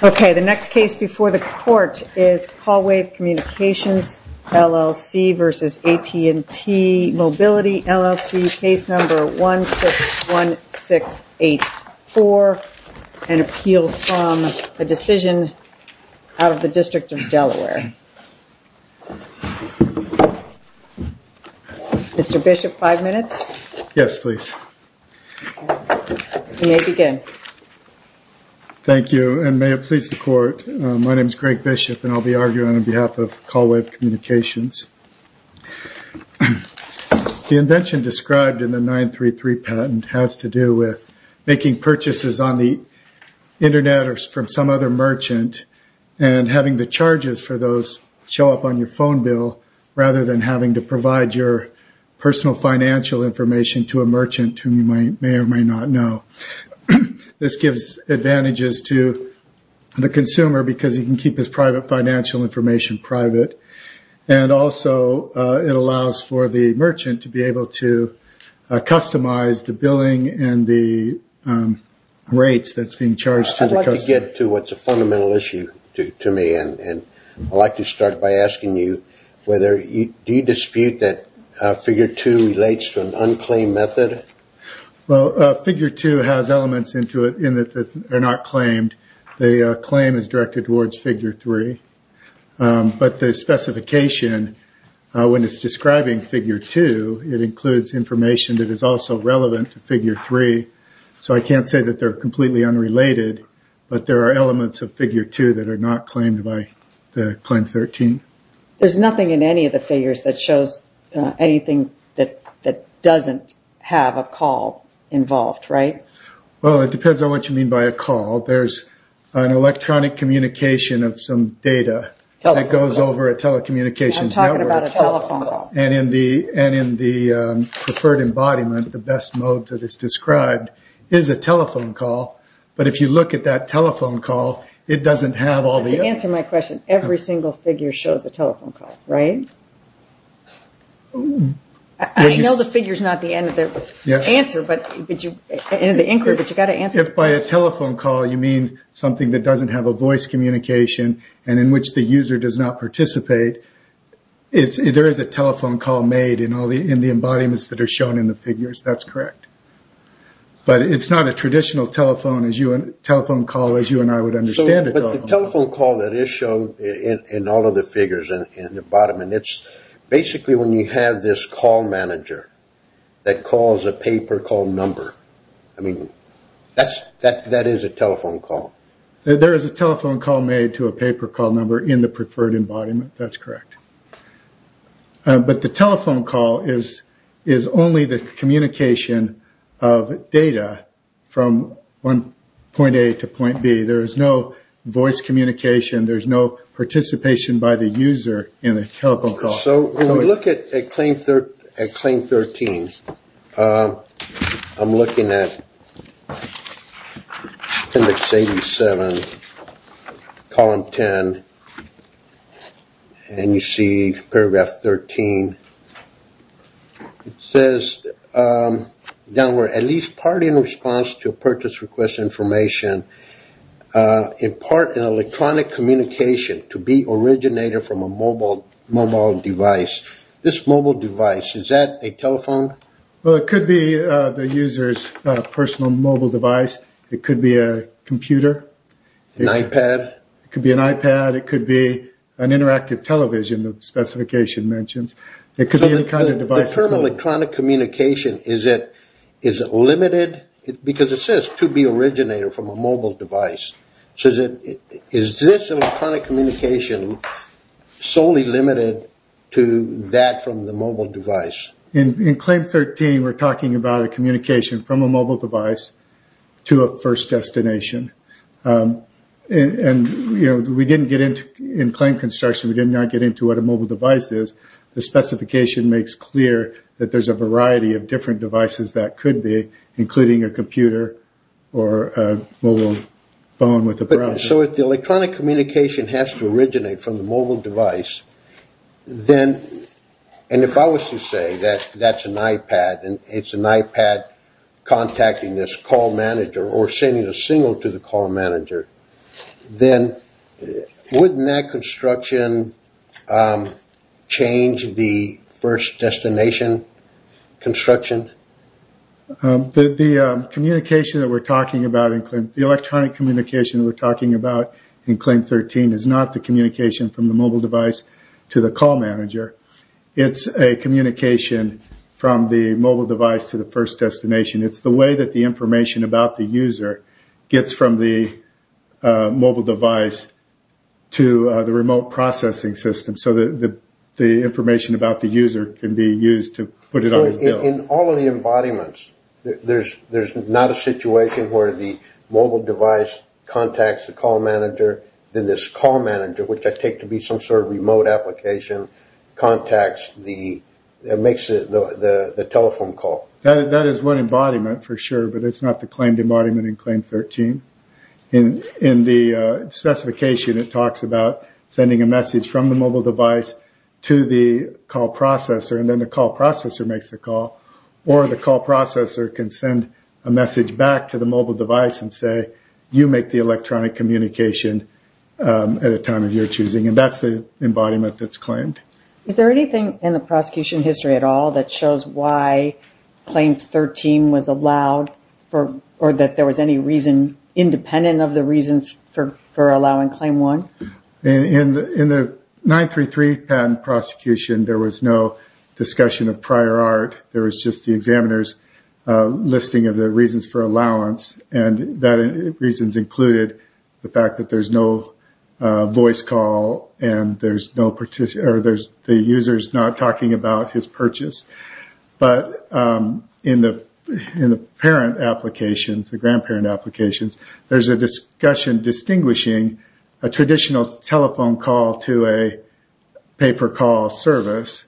Okay, the next case before the court is CallWave Communications LLC v. AT&T Mobility LLC, case number 161684, an appeal from a decision of the District of Delaware. Mr. Bishop, five minutes. Yes, please. You may begin. Thank you, and may it please the court, my name is Greg Bishop and I'll be arguing on behalf of CallWave Communications. The invention described in the 933 patent has to do with making purchases on the internet or from some other merchant and having the charges for those show up on your phone bill rather than having to provide your personal financial information to a merchant who you may or may not know. This gives advantages to the consumer because he can keep his private financial information private and also it allows for the merchant to be able to customize the billing and the rates that's being charged to the customer. I'd like to get to what's a fundamental issue to me and I'd like to start by asking you, do you dispute that figure two relates to an unclaimed method? Well, figure two has elements into it that are not claimed. The claim is directed towards figure three, but the specification when it's describing figure two, it includes information that is also relevant to figure three. So I can't say that they're completely unrelated, but there are elements of figure two that are not claimed by the claim 13. There's nothing in any of the figures that shows anything that doesn't have a call involved, right? Well, it depends on what you mean by a call. There's an electronic communication of some data that goes over a telecommunications network. I'm talking about a telephone call. And in the preferred embodiment, the best mode that is described is a telephone call, but if you look at that telephone call, it doesn't have all the... To answer my question, every single figure shows a telephone call, right? I know the figure is not the end of the answer, but you've got to answer... If by a telephone call you mean something that doesn't have a voice communication and in which the user does not participate, there is a telephone call made in the embodiments that are shown in the figures, that's correct. But it's not a traditional telephone call as you and I would understand a telephone call. But the telephone call that is shown in all of the figures in the embodiment, it's basically when you have this call manager that calls a paper call number. I mean, that is a telephone call. There is a telephone call made to a paper call number in the preferred embodiment, that's correct. But the telephone call is only the communication of data from point A to point B. There is no voice communication. There is no participation by the user in a telephone call. So when we look at claim 13, I'm looking at index 87, column 10, and you see paragraph 13. It says, at least part in response to a purchase request information, in part an electronic communication to be originated from a mobile device. This mobile device, is that a telephone? Well, it could be the user's personal mobile device. It could be a computer. An iPad? It could be an iPad. It could be an interactive television, the specification mentions. The term electronic communication, is it limited? Because it says to be originated from a mobile device. So is this electronic communication solely limited to that from the mobile device? In claim 13, we are talking about a communication from a mobile device to a first destination. And we didn't get into, in claim construction, we did not get into what a mobile device is. The specification makes clear that there's a variety of different devices that could be, including a computer or a mobile phone with a browser. So if the electronic communication has to originate from the mobile device, then, and if I was to say that that's an iPad, and it's an iPad contacting this call manager or sending a signal to the call manager, then wouldn't that construction change the first destination construction? The communication that we're talking about, the electronic communication that we're talking about in claim 13, is not the communication from the mobile device to the call manager. It's a communication from the mobile device to the first destination. It's the way that the information about the user gets from the mobile device to the remote processing system, so that the information about the user can be used to put it on the bill. In all of the embodiments, there's not a situation where the mobile device contacts the call manager, then this call manager, which I take to be some sort of remote application, contacts the, makes the telephone call. That is one embodiment for sure, but it's not the claimed embodiment in claim 13. In the specification, it talks about sending a message from the mobile device to the call processor, and then the call processor makes the call, or the call processor can send a message back to the mobile device and say, you make the electronic communication at a time of your choosing, and that's the embodiment that's claimed. Is there anything in the prosecution history at all that shows why claim 13 was allowed, or that there was any reason independent of the reasons for allowing claim 1? In the 933 patent prosecution, there was no discussion of prior art. There was just the examiner's listing of the reasons for allowance, and those reasons included the fact that there's no voice call, and the user's not talking about his purchase. But in the parent applications, the grandparent applications, there's a discussion distinguishing a traditional telephone call to a pay-per-call service.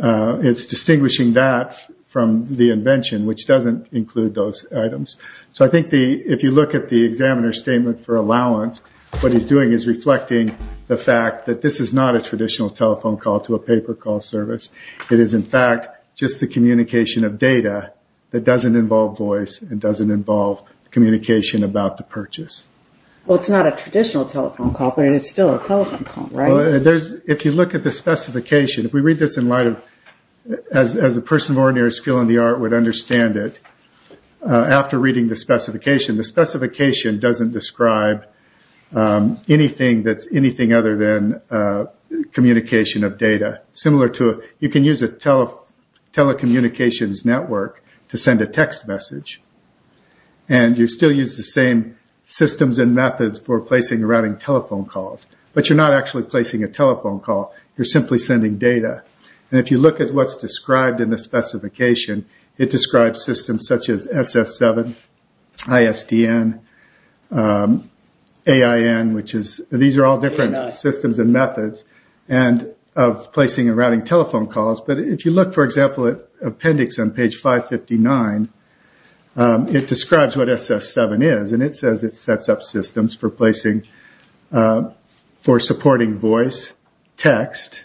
It's distinguishing that from the invention, which doesn't include those items. So I think if you look at the examiner's statement for allowance, what he's doing is reflecting the fact that this is not a traditional telephone call to a pay-per-call service. It is, in fact, just the communication of data that doesn't involve voice and doesn't involve communication about the purchase. Well, it's not a traditional telephone call, but it is still a telephone call, right? If you look at the specification, if we read this in light of, as a person of ordinary skill in the art would understand it, after reading the specification, the specification doesn't describe anything that's anything other than communication of data. You can use a telecommunications network to send a text message, and you still use the same systems and methods for placing and routing telephone calls, but you're not actually placing a telephone call. You're simply sending data. If you look at what's described in the specification, it describes systems such as SS7, ISDN, AIN, which are all different systems and methods of placing and routing telephone calls. But if you look, for example, at appendix on page 559, it describes what SS7 is, and it says it sets up systems for supporting voice, text,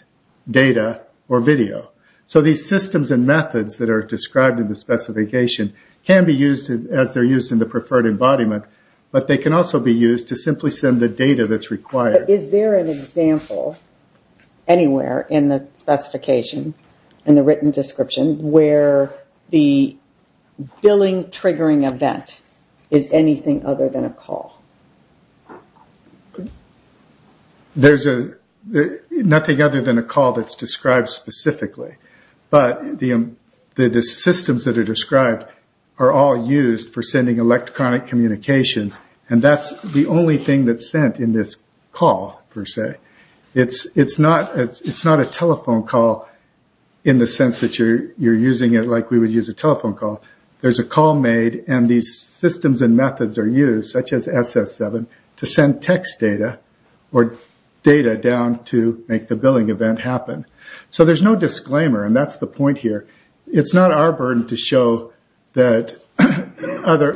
data, or video. So these systems and methods that are described in the specification can be used as they're used in the preferred embodiment, but they can also be used to simply send the data that's required. But is there an example anywhere in the specification, in the written description, where the billing triggering event is anything other than a call? There's nothing other than a call that's described specifically, but the systems that are described are all used for sending electronic communications, and that's the only thing that's sent in this call, per se. It's not a telephone call in the sense that you're using it like we would use a telephone call. There's a call made, and these systems and methods are used, such as SS7, to send text data or data down to make the billing event happen. So there's no disclaimer, and that's the point here. It's not our burden to show that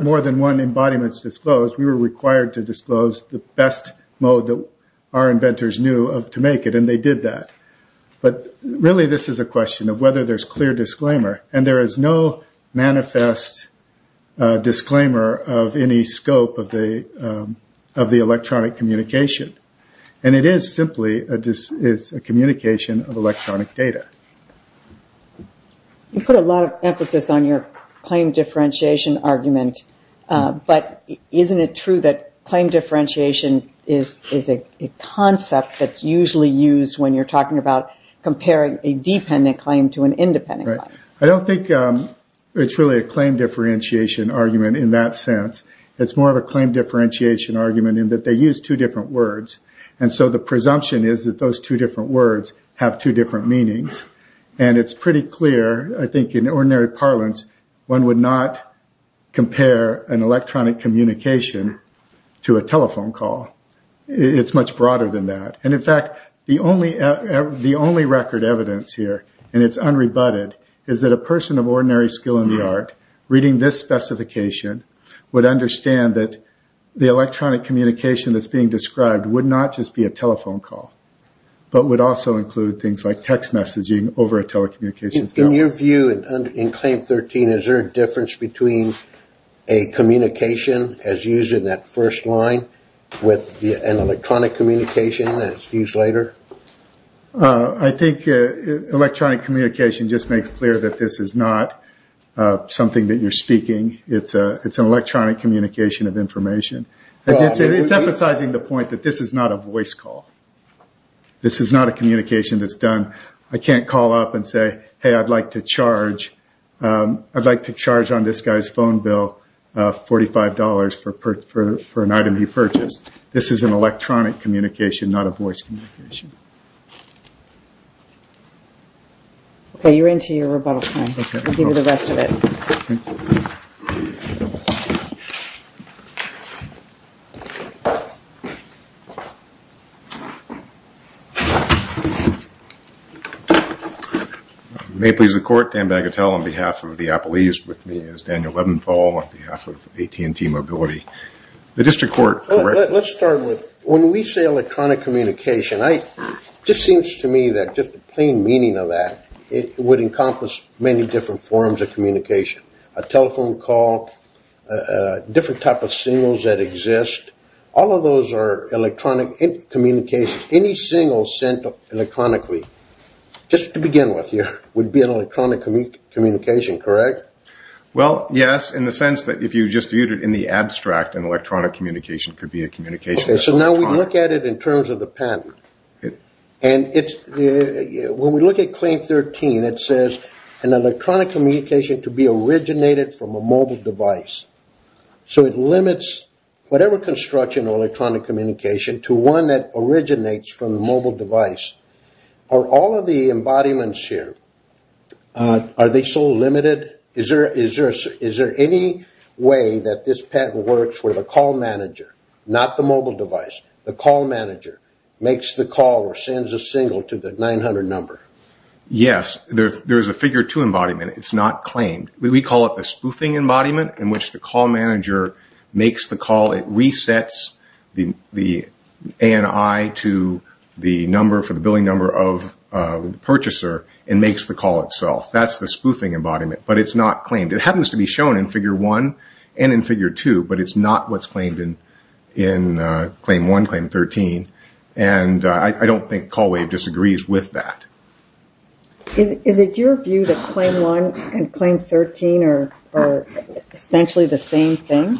more than one embodiment is disclosed. We were required to disclose the best mode that our inventors knew to make it, and they did that. But really this is a question of whether there's clear disclaimer, and there is no manifest disclaimer of any scope of the electronic communication. And it is simply a communication of electronic data. You put a lot of emphasis on your claim differentiation argument, but isn't it true that claim differentiation is a concept that's usually used when you're talking about comparing a dependent claim to an independent one? I don't think it's really a claim differentiation argument in that sense. It's more of a claim differentiation argument in that they use two different words, and so the presumption is that those two different words have two different meanings. And it's pretty clear, I think, in ordinary parlance, one would not compare an electronic communication to a telephone call. It's much broader than that. And in fact, the only record evidence here, and it's unrebutted, is that a person of ordinary skill in the art, reading this specification, would understand that the electronic communication that's being described would not just be a telephone call, but would also include things like text messaging over a telecommunications network. In your view, in Claim 13, is there a difference between a communication as used in that first line with an electronic communication as used later? I think electronic communication just makes clear that this is not something that you're speaking. It's an electronic communication of information. It's emphasizing the point that this is not a voice call. This is not a communication that's done, I can't call up and say, hey, I'd like to charge on this guy's phone bill $45 for an item he purchased. This is an electronic communication, not a voice communication. Okay, you're into your rebuttal time. I'll give you the rest of it. Thank you. May it please the Court, Dan Bagatelle on behalf of the Appalachians, with me is Daniel Levinthal on behalf of AT&T Mobility. The District Court, correct? Let's start with, when we say electronic communication, it just seems to me that just the plain meaning of that would encompass many different forms of communication. A telephone call, different type of signals that exist, all of those are electronic communications. Any signal sent electronically, just to begin with here, would be an electronic communication, correct? Well, yes, in the sense that if you just viewed it in the abstract, an electronic communication could be a communication. Okay, so now we look at it in terms of the patent. When we look at Claim 13, it says, an electronic communication to be originated from a mobile device. So it limits whatever construction of electronic communication to one that originates from a mobile device. Are all of the embodiments here, are they so limited? Is there any way that this patent works where the call manager, not the mobile device, the call manager makes the call or sends a signal to the 900 number? Yes, there is a figure two embodiment. It's not claimed. We call it the spoofing embodiment, in which the call manager makes the call. It resets the ANI to the number for the billing number of the purchaser and makes the call itself. That's the spoofing embodiment, but it's not claimed. It happens to be shown in Figure 1 and in Figure 2, but it's not what's claimed in Claim 1, Claim 13. And I don't think CallWave disagrees with that. Is it your view that Claim 1 and Claim 13 are essentially the same thing?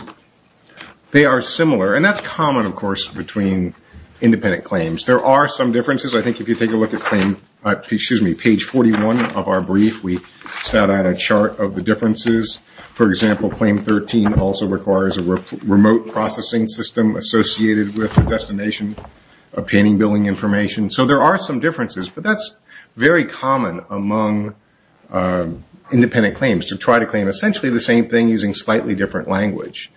They are similar, and that's common, of course, between independent claims. There are some differences. I think if you take a look at Page 41 of our brief, we set out a chart of the differences. For example, Claim 13 also requires a remote processing system associated with the destination of painting billing information. So there are some differences, but that's very common among independent claims, to try to claim essentially the same thing using slightly different language.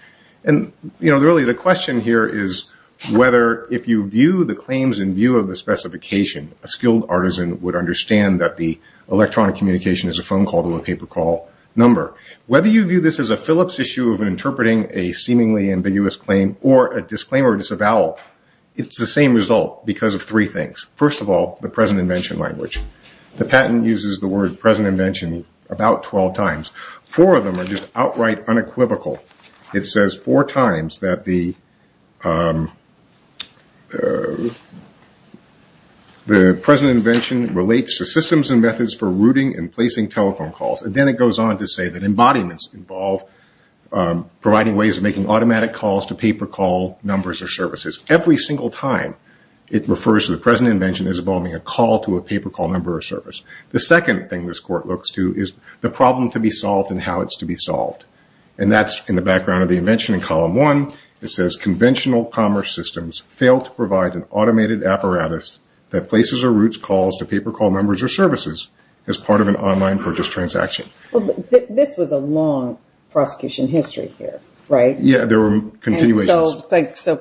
Really, the question here is whether, if you view the claims in view of the specification, a skilled artisan would understand that the electronic communication is a phone call to a paper call number. Whether you view this as a Phillips issue of interpreting a seemingly ambiguous claim or a disclaimer or disavowal, it's the same result because of three things. First of all, the present invention language. The patent uses the word present invention about 12 times. Four of them are just outright unequivocal. It says four times that the present invention relates to systems and methods for routing and placing telephone calls. Then it goes on to say that embodiments involve providing ways of making automatic calls to paper call numbers or services. Every single time it refers to the present invention as involving a call to a paper call number or service. The second thing this court looks to is the problem to be solved and how it's to be solved. That's in the background of the invention in column one. It says conventional commerce systems fail to provide an automated apparatus that places or routes calls to paper call numbers or services as part of an online purchase transaction. This was a long prosecution history here, right? Yeah, there were continuations.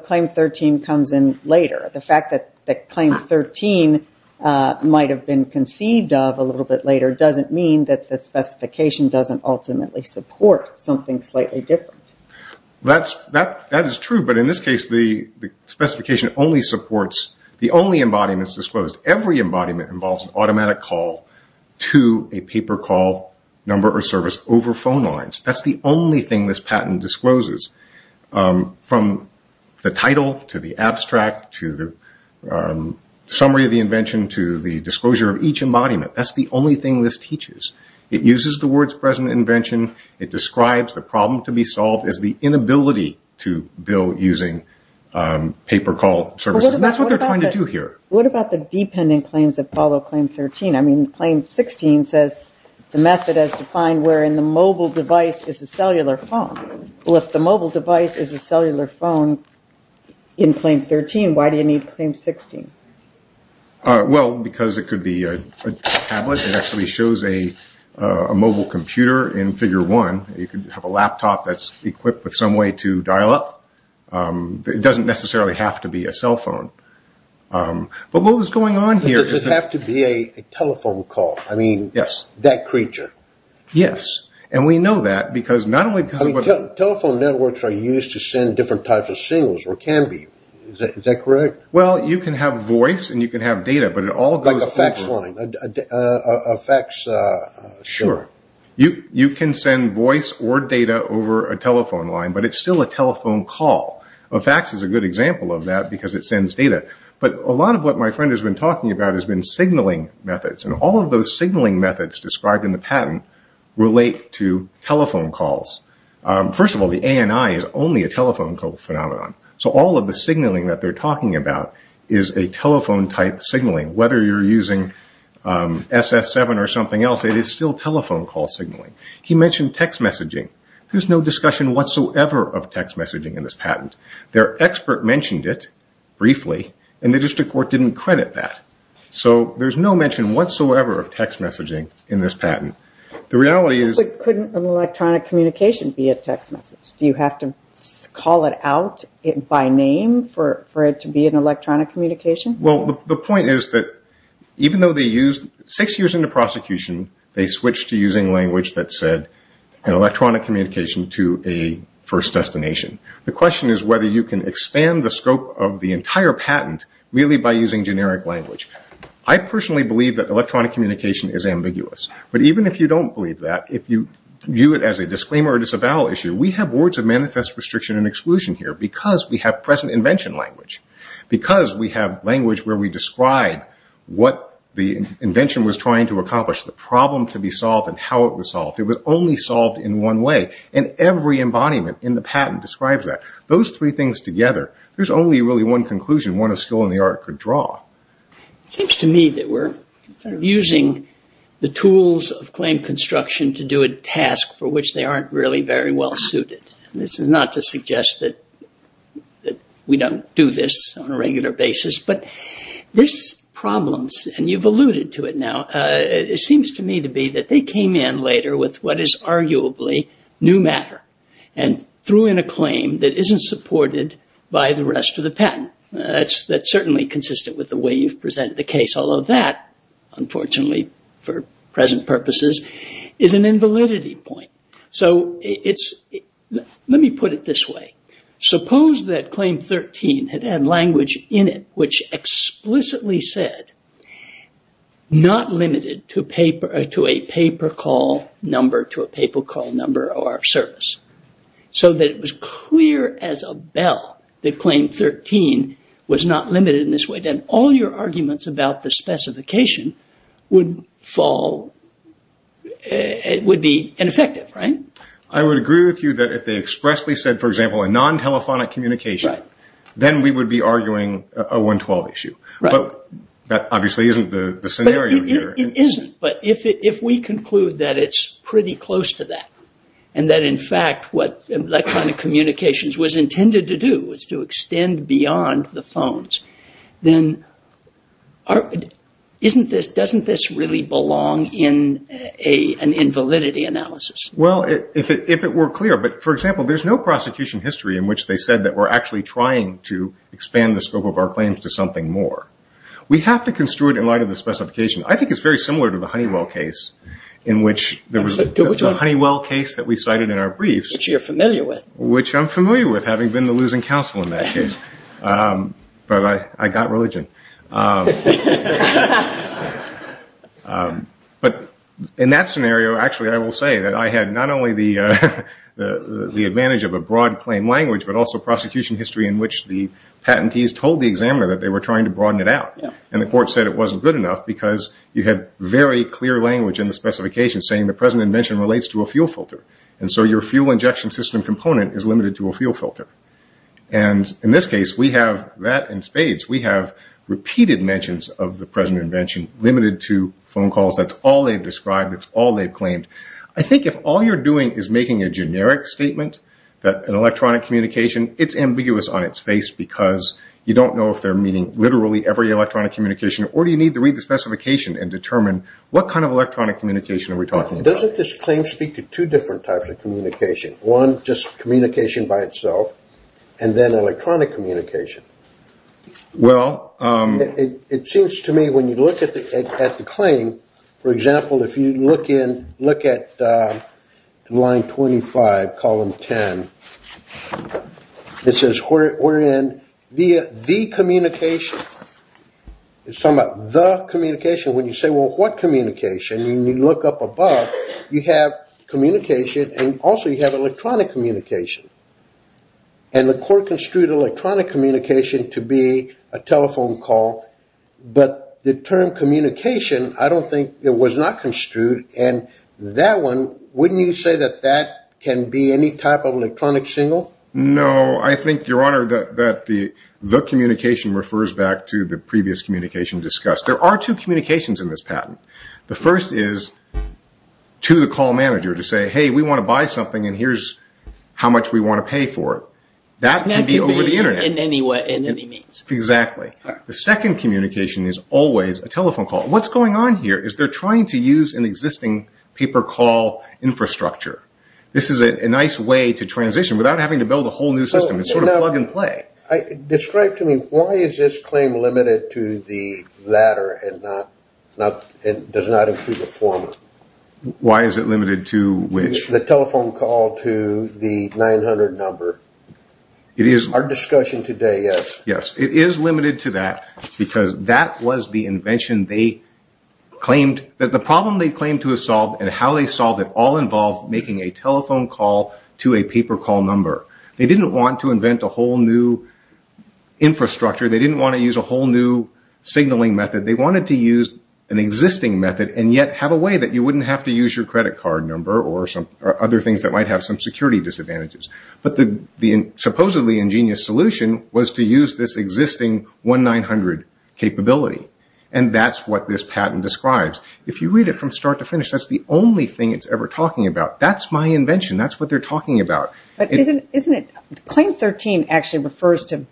Claim 13 comes in later. The fact that claim 13 might have been conceived of a little bit later doesn't mean that the specification doesn't ultimately support something slightly different. That is true, but in this case the specification only supports the only embodiments disclosed. Every embodiment involves an automatic call to a paper call number or service over phone lines. That's the only thing this patent discloses from the title to the abstract to the summary of the invention to the disclosure of each embodiment. That's the only thing this teaches. It uses the words present invention. It describes the problem to be solved as the inability to bill using paper call services. That's what they're trying to do here. What about the dependent claims that follow claim 13? Claim 16 says the method as defined wherein the mobile device is a cellular phone. If the mobile device is a cellular phone in claim 13, why do you need claim 16? Because it could be a tablet. It actually shows a mobile computer in figure one. You could have a laptop that's equipped with some way to dial up. It doesn't necessarily have to be a cell phone. What was going on here? Does it have to be a telephone call? Yes. That creature? Yes. We know that because not only because of what... Telephone networks are used to send different types of signals or can be. Is that correct? Well, you can have voice and you can have data, but it all goes... Like a fax line, a fax... Sure. You can send voice or data over a telephone line, but it's still a telephone call. A fax is a good example of that because it sends data. But a lot of what my friend has been talking about has been signaling methods. And all of those signaling methods described in the patent relate to telephone calls. First of all, the ANI is only a telephone call phenomenon. So all of the signaling that they're talking about is a telephone-type signaling. Whether you're using SS7 or something else, it is still telephone call signaling. He mentioned text messaging. There's no discussion whatsoever of text messaging in this patent. Their expert mentioned it briefly, and the district court didn't credit that. So there's no mention whatsoever of text messaging in this patent. The reality is... But couldn't an electronic communication be a text message? Do you have to call it out by name for it to be an electronic communication? Well, the point is that even though they used... to a first destination. The question is whether you can expand the scope of the entire patent really by using generic language. I personally believe that electronic communication is ambiguous. But even if you don't believe that, if you view it as a disclaimer or disavowal issue, we have words of manifest restriction and exclusion here because we have present invention language. Because we have language where we describe what the invention was trying to accomplish, the problem to be solved, and how it was solved. It was only solved in one way, and every embodiment in the patent describes that. Those three things together, there's only really one conclusion one of skill in the art could draw. It seems to me that we're using the tools of claim construction to do a task for which they aren't really very well suited. This is not to suggest that we don't do this on a regular basis. But this problem, and you've alluded to it now, it seems to me to be that they came in later with what is arguably new matter and threw in a claim that isn't supported by the rest of the patent. That's certainly consistent with the way you've presented the case, although that, unfortunately, for present purposes, is an invalidity point. Let me put it this way. Suppose that claim 13 had had language in it which explicitly said, not limited to a paper call number to a paper call number or service, so that it was clear as a bell that claim 13 was not limited in this way. Then all your arguments about the specification would be ineffective, right? I would agree with you that if they expressly said, for example, a non-telephonic communication, then we would be arguing a 112 issue. But that obviously isn't the scenario here. It isn't, but if we conclude that it's pretty close to that and that, in fact, what electronic communications was intended to do was to extend beyond the phones, then doesn't this really belong in an invalidity analysis? Well, if it were clear. But, for example, there's no prosecution history in which they said that we're actually trying to expand the scope of our claims to something more. We have to construe it in light of the specification. I think it's very similar to the Honeywell case in which there was a Honeywell case that we cited in our briefs. Which you're familiar with. Which I'm familiar with, having been the losing counsel in that case. But I got religion. But in that scenario, actually, I will say that I had not only the advantage of a broad claim language, but also prosecution history in which the patentees told the examiner that they were trying to broaden it out. And the court said it wasn't good enough because you had very clear language in the specification saying the present invention relates to a fuel filter. And so your fuel injection system component is limited to a fuel filter. And in this case, we have that in spades. We have repeated mentions of the present invention limited to phone calls. That's all they've described. That's all they've claimed. I think if all you're doing is making a generic statement, an electronic communication, it's ambiguous on its face because you don't know if they're meaning literally every electronic communication or do you need to read the specification and determine what kind of electronic communication are we talking about. Doesn't this claim speak to two different types of communication? One, just communication by itself. And then electronic communication. It seems to me when you look at the claim, for example, if you look at line 25, column 10, it says we're in via the communication. It's talking about the communication. When you say, well, what communication? When you look up above, you have communication and also you have electronic communication. And the court construed electronic communication to be a telephone call. But the term communication, I don't think it was not construed. And that one, wouldn't you say that that can be any type of electronic signal? No. I think, Your Honor, that the communication refers back to the previous communication discussed. There are two communications in this patent. The first is to the call manager to say, hey, we want to buy something and here's how much we want to pay for it. That can be over the Internet. In any means. Exactly. The second communication is always a telephone call. What's going on here is they're trying to use an existing paper call infrastructure. This is a nice way to transition without having to build a whole new system. It's sort of plug and play. Describe to me why is this claim limited to the latter and does not include the former? Why is it limited to which? The telephone call to the 900 number. Our discussion today, yes. Yes. It is limited to that because that was the invention they claimed that the problem they claimed to have solved and how they solved it all involved making a telephone call to a paper call number. They didn't want to invent a whole new infrastructure. They didn't want to use a whole new signaling method. They wanted to use an existing method and yet have a way that you wouldn't have to use your credit card number or other things that might have some security disadvantages. The supposedly ingenious solution was to use this existing 1-900 capability. That's what this patent describes. If you read it from start to finish, that's the only thing it's ever talking about. That's my invention. That's what they're talking about. Claim 13 actually refers to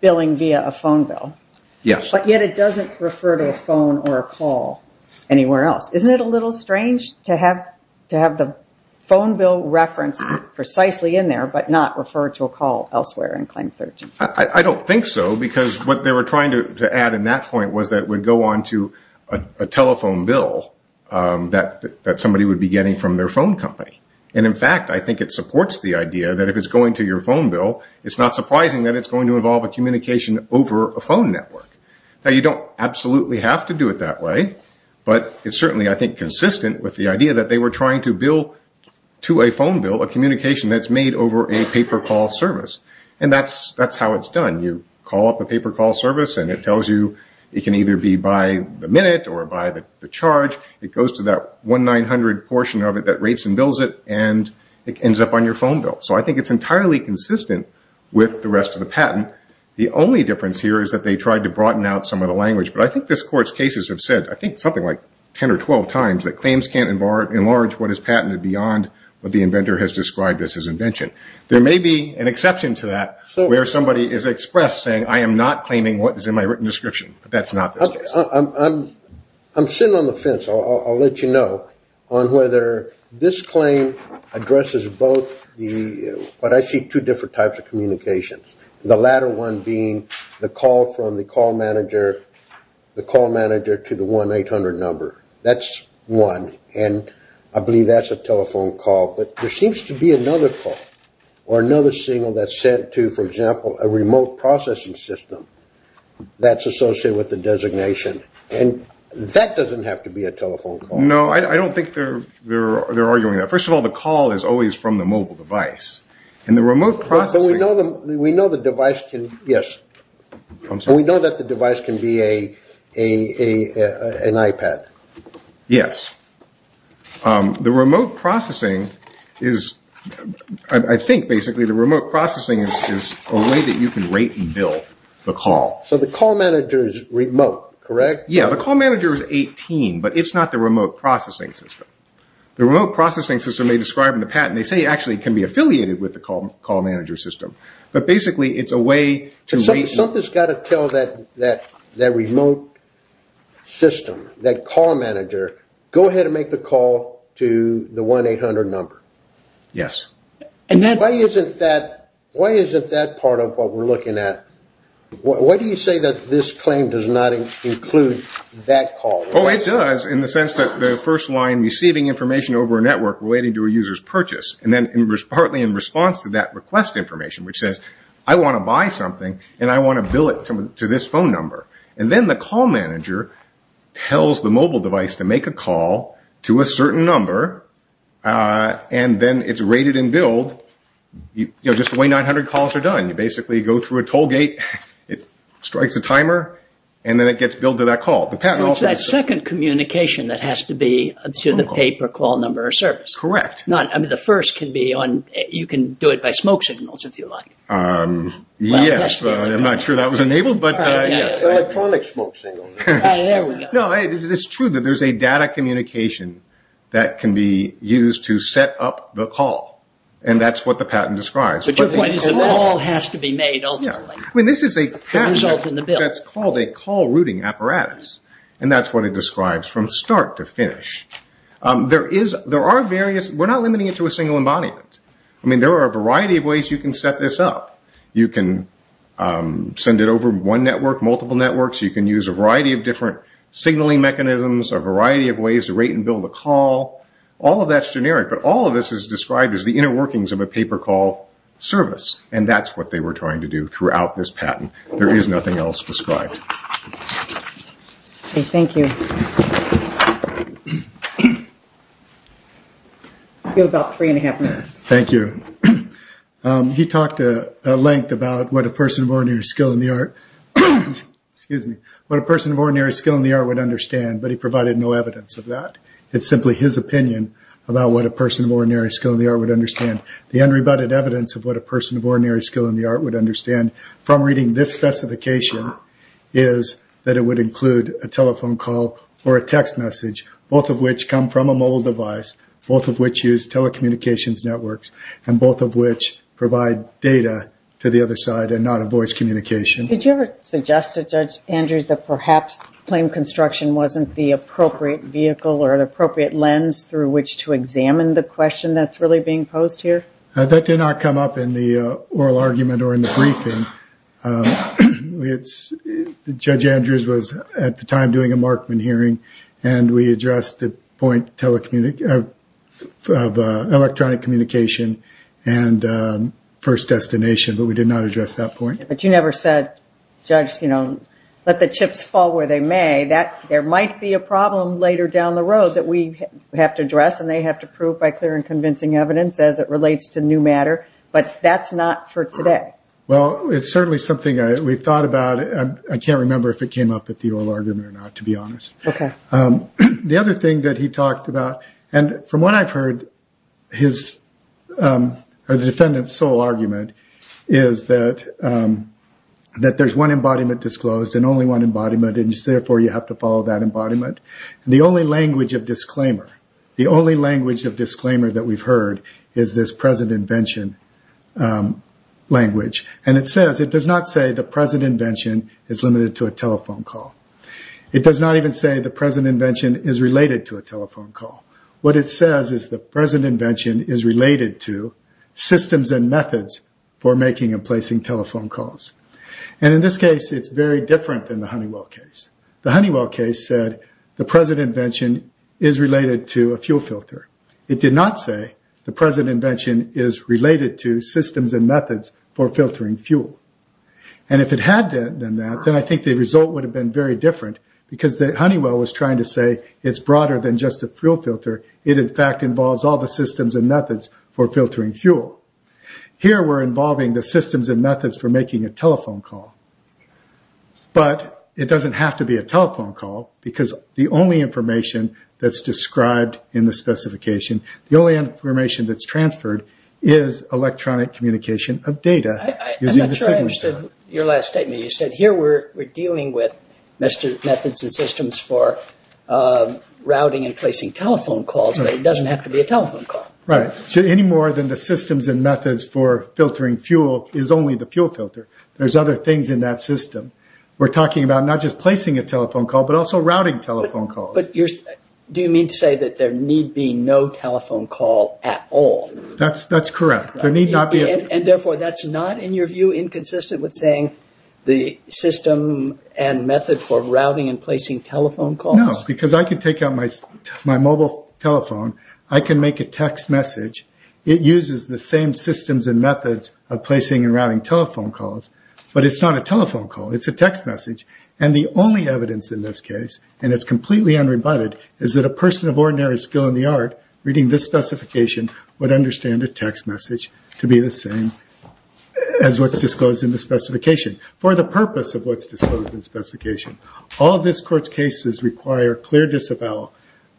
billing via a phone bill. Yes. But yet it doesn't refer to a phone or a call anywhere else. Isn't it a little strange to have the phone bill reference precisely in there but not refer to a call elsewhere in Claim 13? I don't think so because what they were trying to add in that point was that it would go on to a telephone bill that somebody would be getting from their phone company. In fact, I think it supports the idea that if it's going to your phone bill, it's not surprising that it's going to involve a communication over a phone network. You don't absolutely have to do it that way, but it's certainly, I think, consistent with the idea that they were trying to bill to a phone bill a communication that's made over a paper call service. That's how it's done. You call up a paper call service and it tells you it can either be by the minute or by the charge. It goes to that 1-900 portion of it that rates and bills it, and it ends up on your phone bill. So I think it's entirely consistent with the rest of the patent. The only difference here is that they tried to broaden out some of the language, but I think this Court's cases have said I think something like 10 or 12 times that claims can't enlarge what is patented beyond what the inventor has described as his invention. There may be an exception to that where somebody is expressed saying, I am not claiming what is in my written description, but that's not the case. I'm sitting on the fence. I'll let you know on whether this claim addresses both the – but I see two different types of communications, the latter one being the call from the call manager to the 1-800 number. That's one, and I believe that's a telephone call, but there seems to be another call or another signal that's sent to, for example, a remote processing system that's associated with the designation, and that doesn't have to be a telephone call. No, I don't think they're arguing that. First of all, the call is always from the mobile device, and the remote processing – But we know the device can – yes. We know that the device can be an iPad. Yes. The remote processing is – I think, basically, the remote processing is a way that you can rate and bill the call. So the call manager is remote, correct? Yes, the call manager is 18, but it's not the remote processing system. The remote processing system they describe in the patent, they say actually can be affiliated with the call manager system, but basically it's a way to – Something's got to tell that remote system, that call manager, go ahead and make the call to the 1-800 number. Yes. Why isn't that part of what we're looking at? Why do you say that this claim does not include that call? Oh, it does, in the sense that the first line, receiving information over a network relating to a user's purchase, and then partly in response to that request information, which says, I want to buy something, and I want to bill it to this phone number. And then the call manager tells the mobile device to make a call to a certain number, and then it's rated and billed just the way 900 calls are done. You basically go through a toll gate, it strikes a timer, and then it gets billed to that call. It's that second communication that has to be to the pay-per-call number or service. Correct. The first can be on – you can do it by smoke signals, if you like. Yes. I'm not sure that was enabled, but yes. Electronic smoke signals. There we go. No, it's true that there's a data communication that can be used to set up the call, and that's what the patent describes. But your point is the call has to be made ultimately. I mean, this is a patent that's called a call-routing apparatus, and that's what it describes from start to finish. There are various – we're not limiting it to a single embodiment. I mean, there are a variety of ways you can set this up. You can send it over one network, multiple networks. You can use a variety of different signaling mechanisms, a variety of ways to rate and bill the call. All of that's generic, but all of this is described as the inner workings of a pay-per-call service, and that's what they were trying to do throughout this patent. There is nothing else described. Thank you. You have about three and a half minutes. Thank you. He talked at length about what a person of ordinary skill in the art would understand, but he provided no evidence of that. It's simply his opinion about what a person of ordinary skill in the art would understand. The unrebutted evidence of what a person of ordinary skill in the art would understand from reading this specification is that it would include a telephone call or a text message, both of which come from a mobile device, both of which use telecommunications networks, and both of which provide data to the other side and not a voice communication. Did you ever suggest to Judge Andrews that perhaps claim construction wasn't the appropriate vehicle or the appropriate lens through which to examine the question that's really being posed here? That did not come up in the oral argument or in the briefing. Judge Andrews was at the time doing a Markman hearing, and we addressed the point of electronic communication and first destination, but we did not address that point. But you never said, Judge, let the chips fall where they may. There might be a problem later down the road that we have to address, and they have to prove by clear and convincing evidence as it relates to new matter, but that's not for today. Well, it's certainly something we thought about. I can't remember if it came up at the oral argument or not, to be honest. The other thing that he talked about, and from what I've heard, the defendant's sole argument is that there's one embodiment disclosed and only one embodiment, and therefore you have to follow that embodiment. The only language of disclaimer that we've heard is this present invention language, and it says it does not say the present invention is limited to a telephone call. It does not even say the present invention is related to a telephone call. What it says is the present invention is related to systems and methods for making and placing telephone calls. In this case, it's very different than the Honeywell case. The Honeywell case said the present invention is related to a fuel filter. It did not say the present invention is related to systems and methods for filtering fuel, and if it had done that, then I think the result would have been very different because Honeywell was trying to say it's broader than just a fuel filter. It, in fact, involves all the systems and methods for filtering fuel. Here, we're involving the systems and methods for making a telephone call, but it doesn't have to be a telephone call because the only information that's described in the specification, the only information that's transferred is electronic communication of data. I'm not sure I understood your last statement. You said here we're dealing with methods and systems for routing and placing telephone calls, but it doesn't have to be a telephone call. Right. Any more than the systems and methods for filtering fuel is only the fuel filter. There's other things in that system. We're talking about not just placing a telephone call, but also routing telephone calls. Do you mean to say that there need be no telephone call at all? That's correct. Therefore, that's not, in your view, inconsistent with saying the system and method for routing and placing telephone calls? No, because I can take out my mobile telephone. I can make a text message. It uses the same systems and methods of placing and routing telephone calls, but it's not a telephone call. It's a text message. And the only evidence in this case, and it's completely unrebutted, is that a person of ordinary skill in the art, reading this specification, would understand a text message to be the same as what's disclosed in the specification, for the purpose of what's disclosed in the specification. All of this Court's cases require clear disavowal.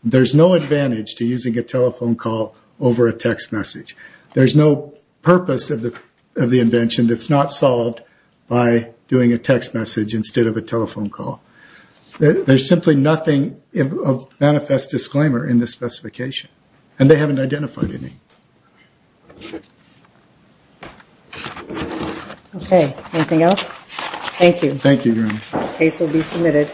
There's no advantage to using a telephone call over a text message. There's no purpose of the invention that's not solved by doing a text message instead of a telephone call. There's simply nothing of manifest disclaimer in this specification. And they haven't identified any. Okay. Anything else? Thank you. Thank you, Your Honor. The case will be submitted.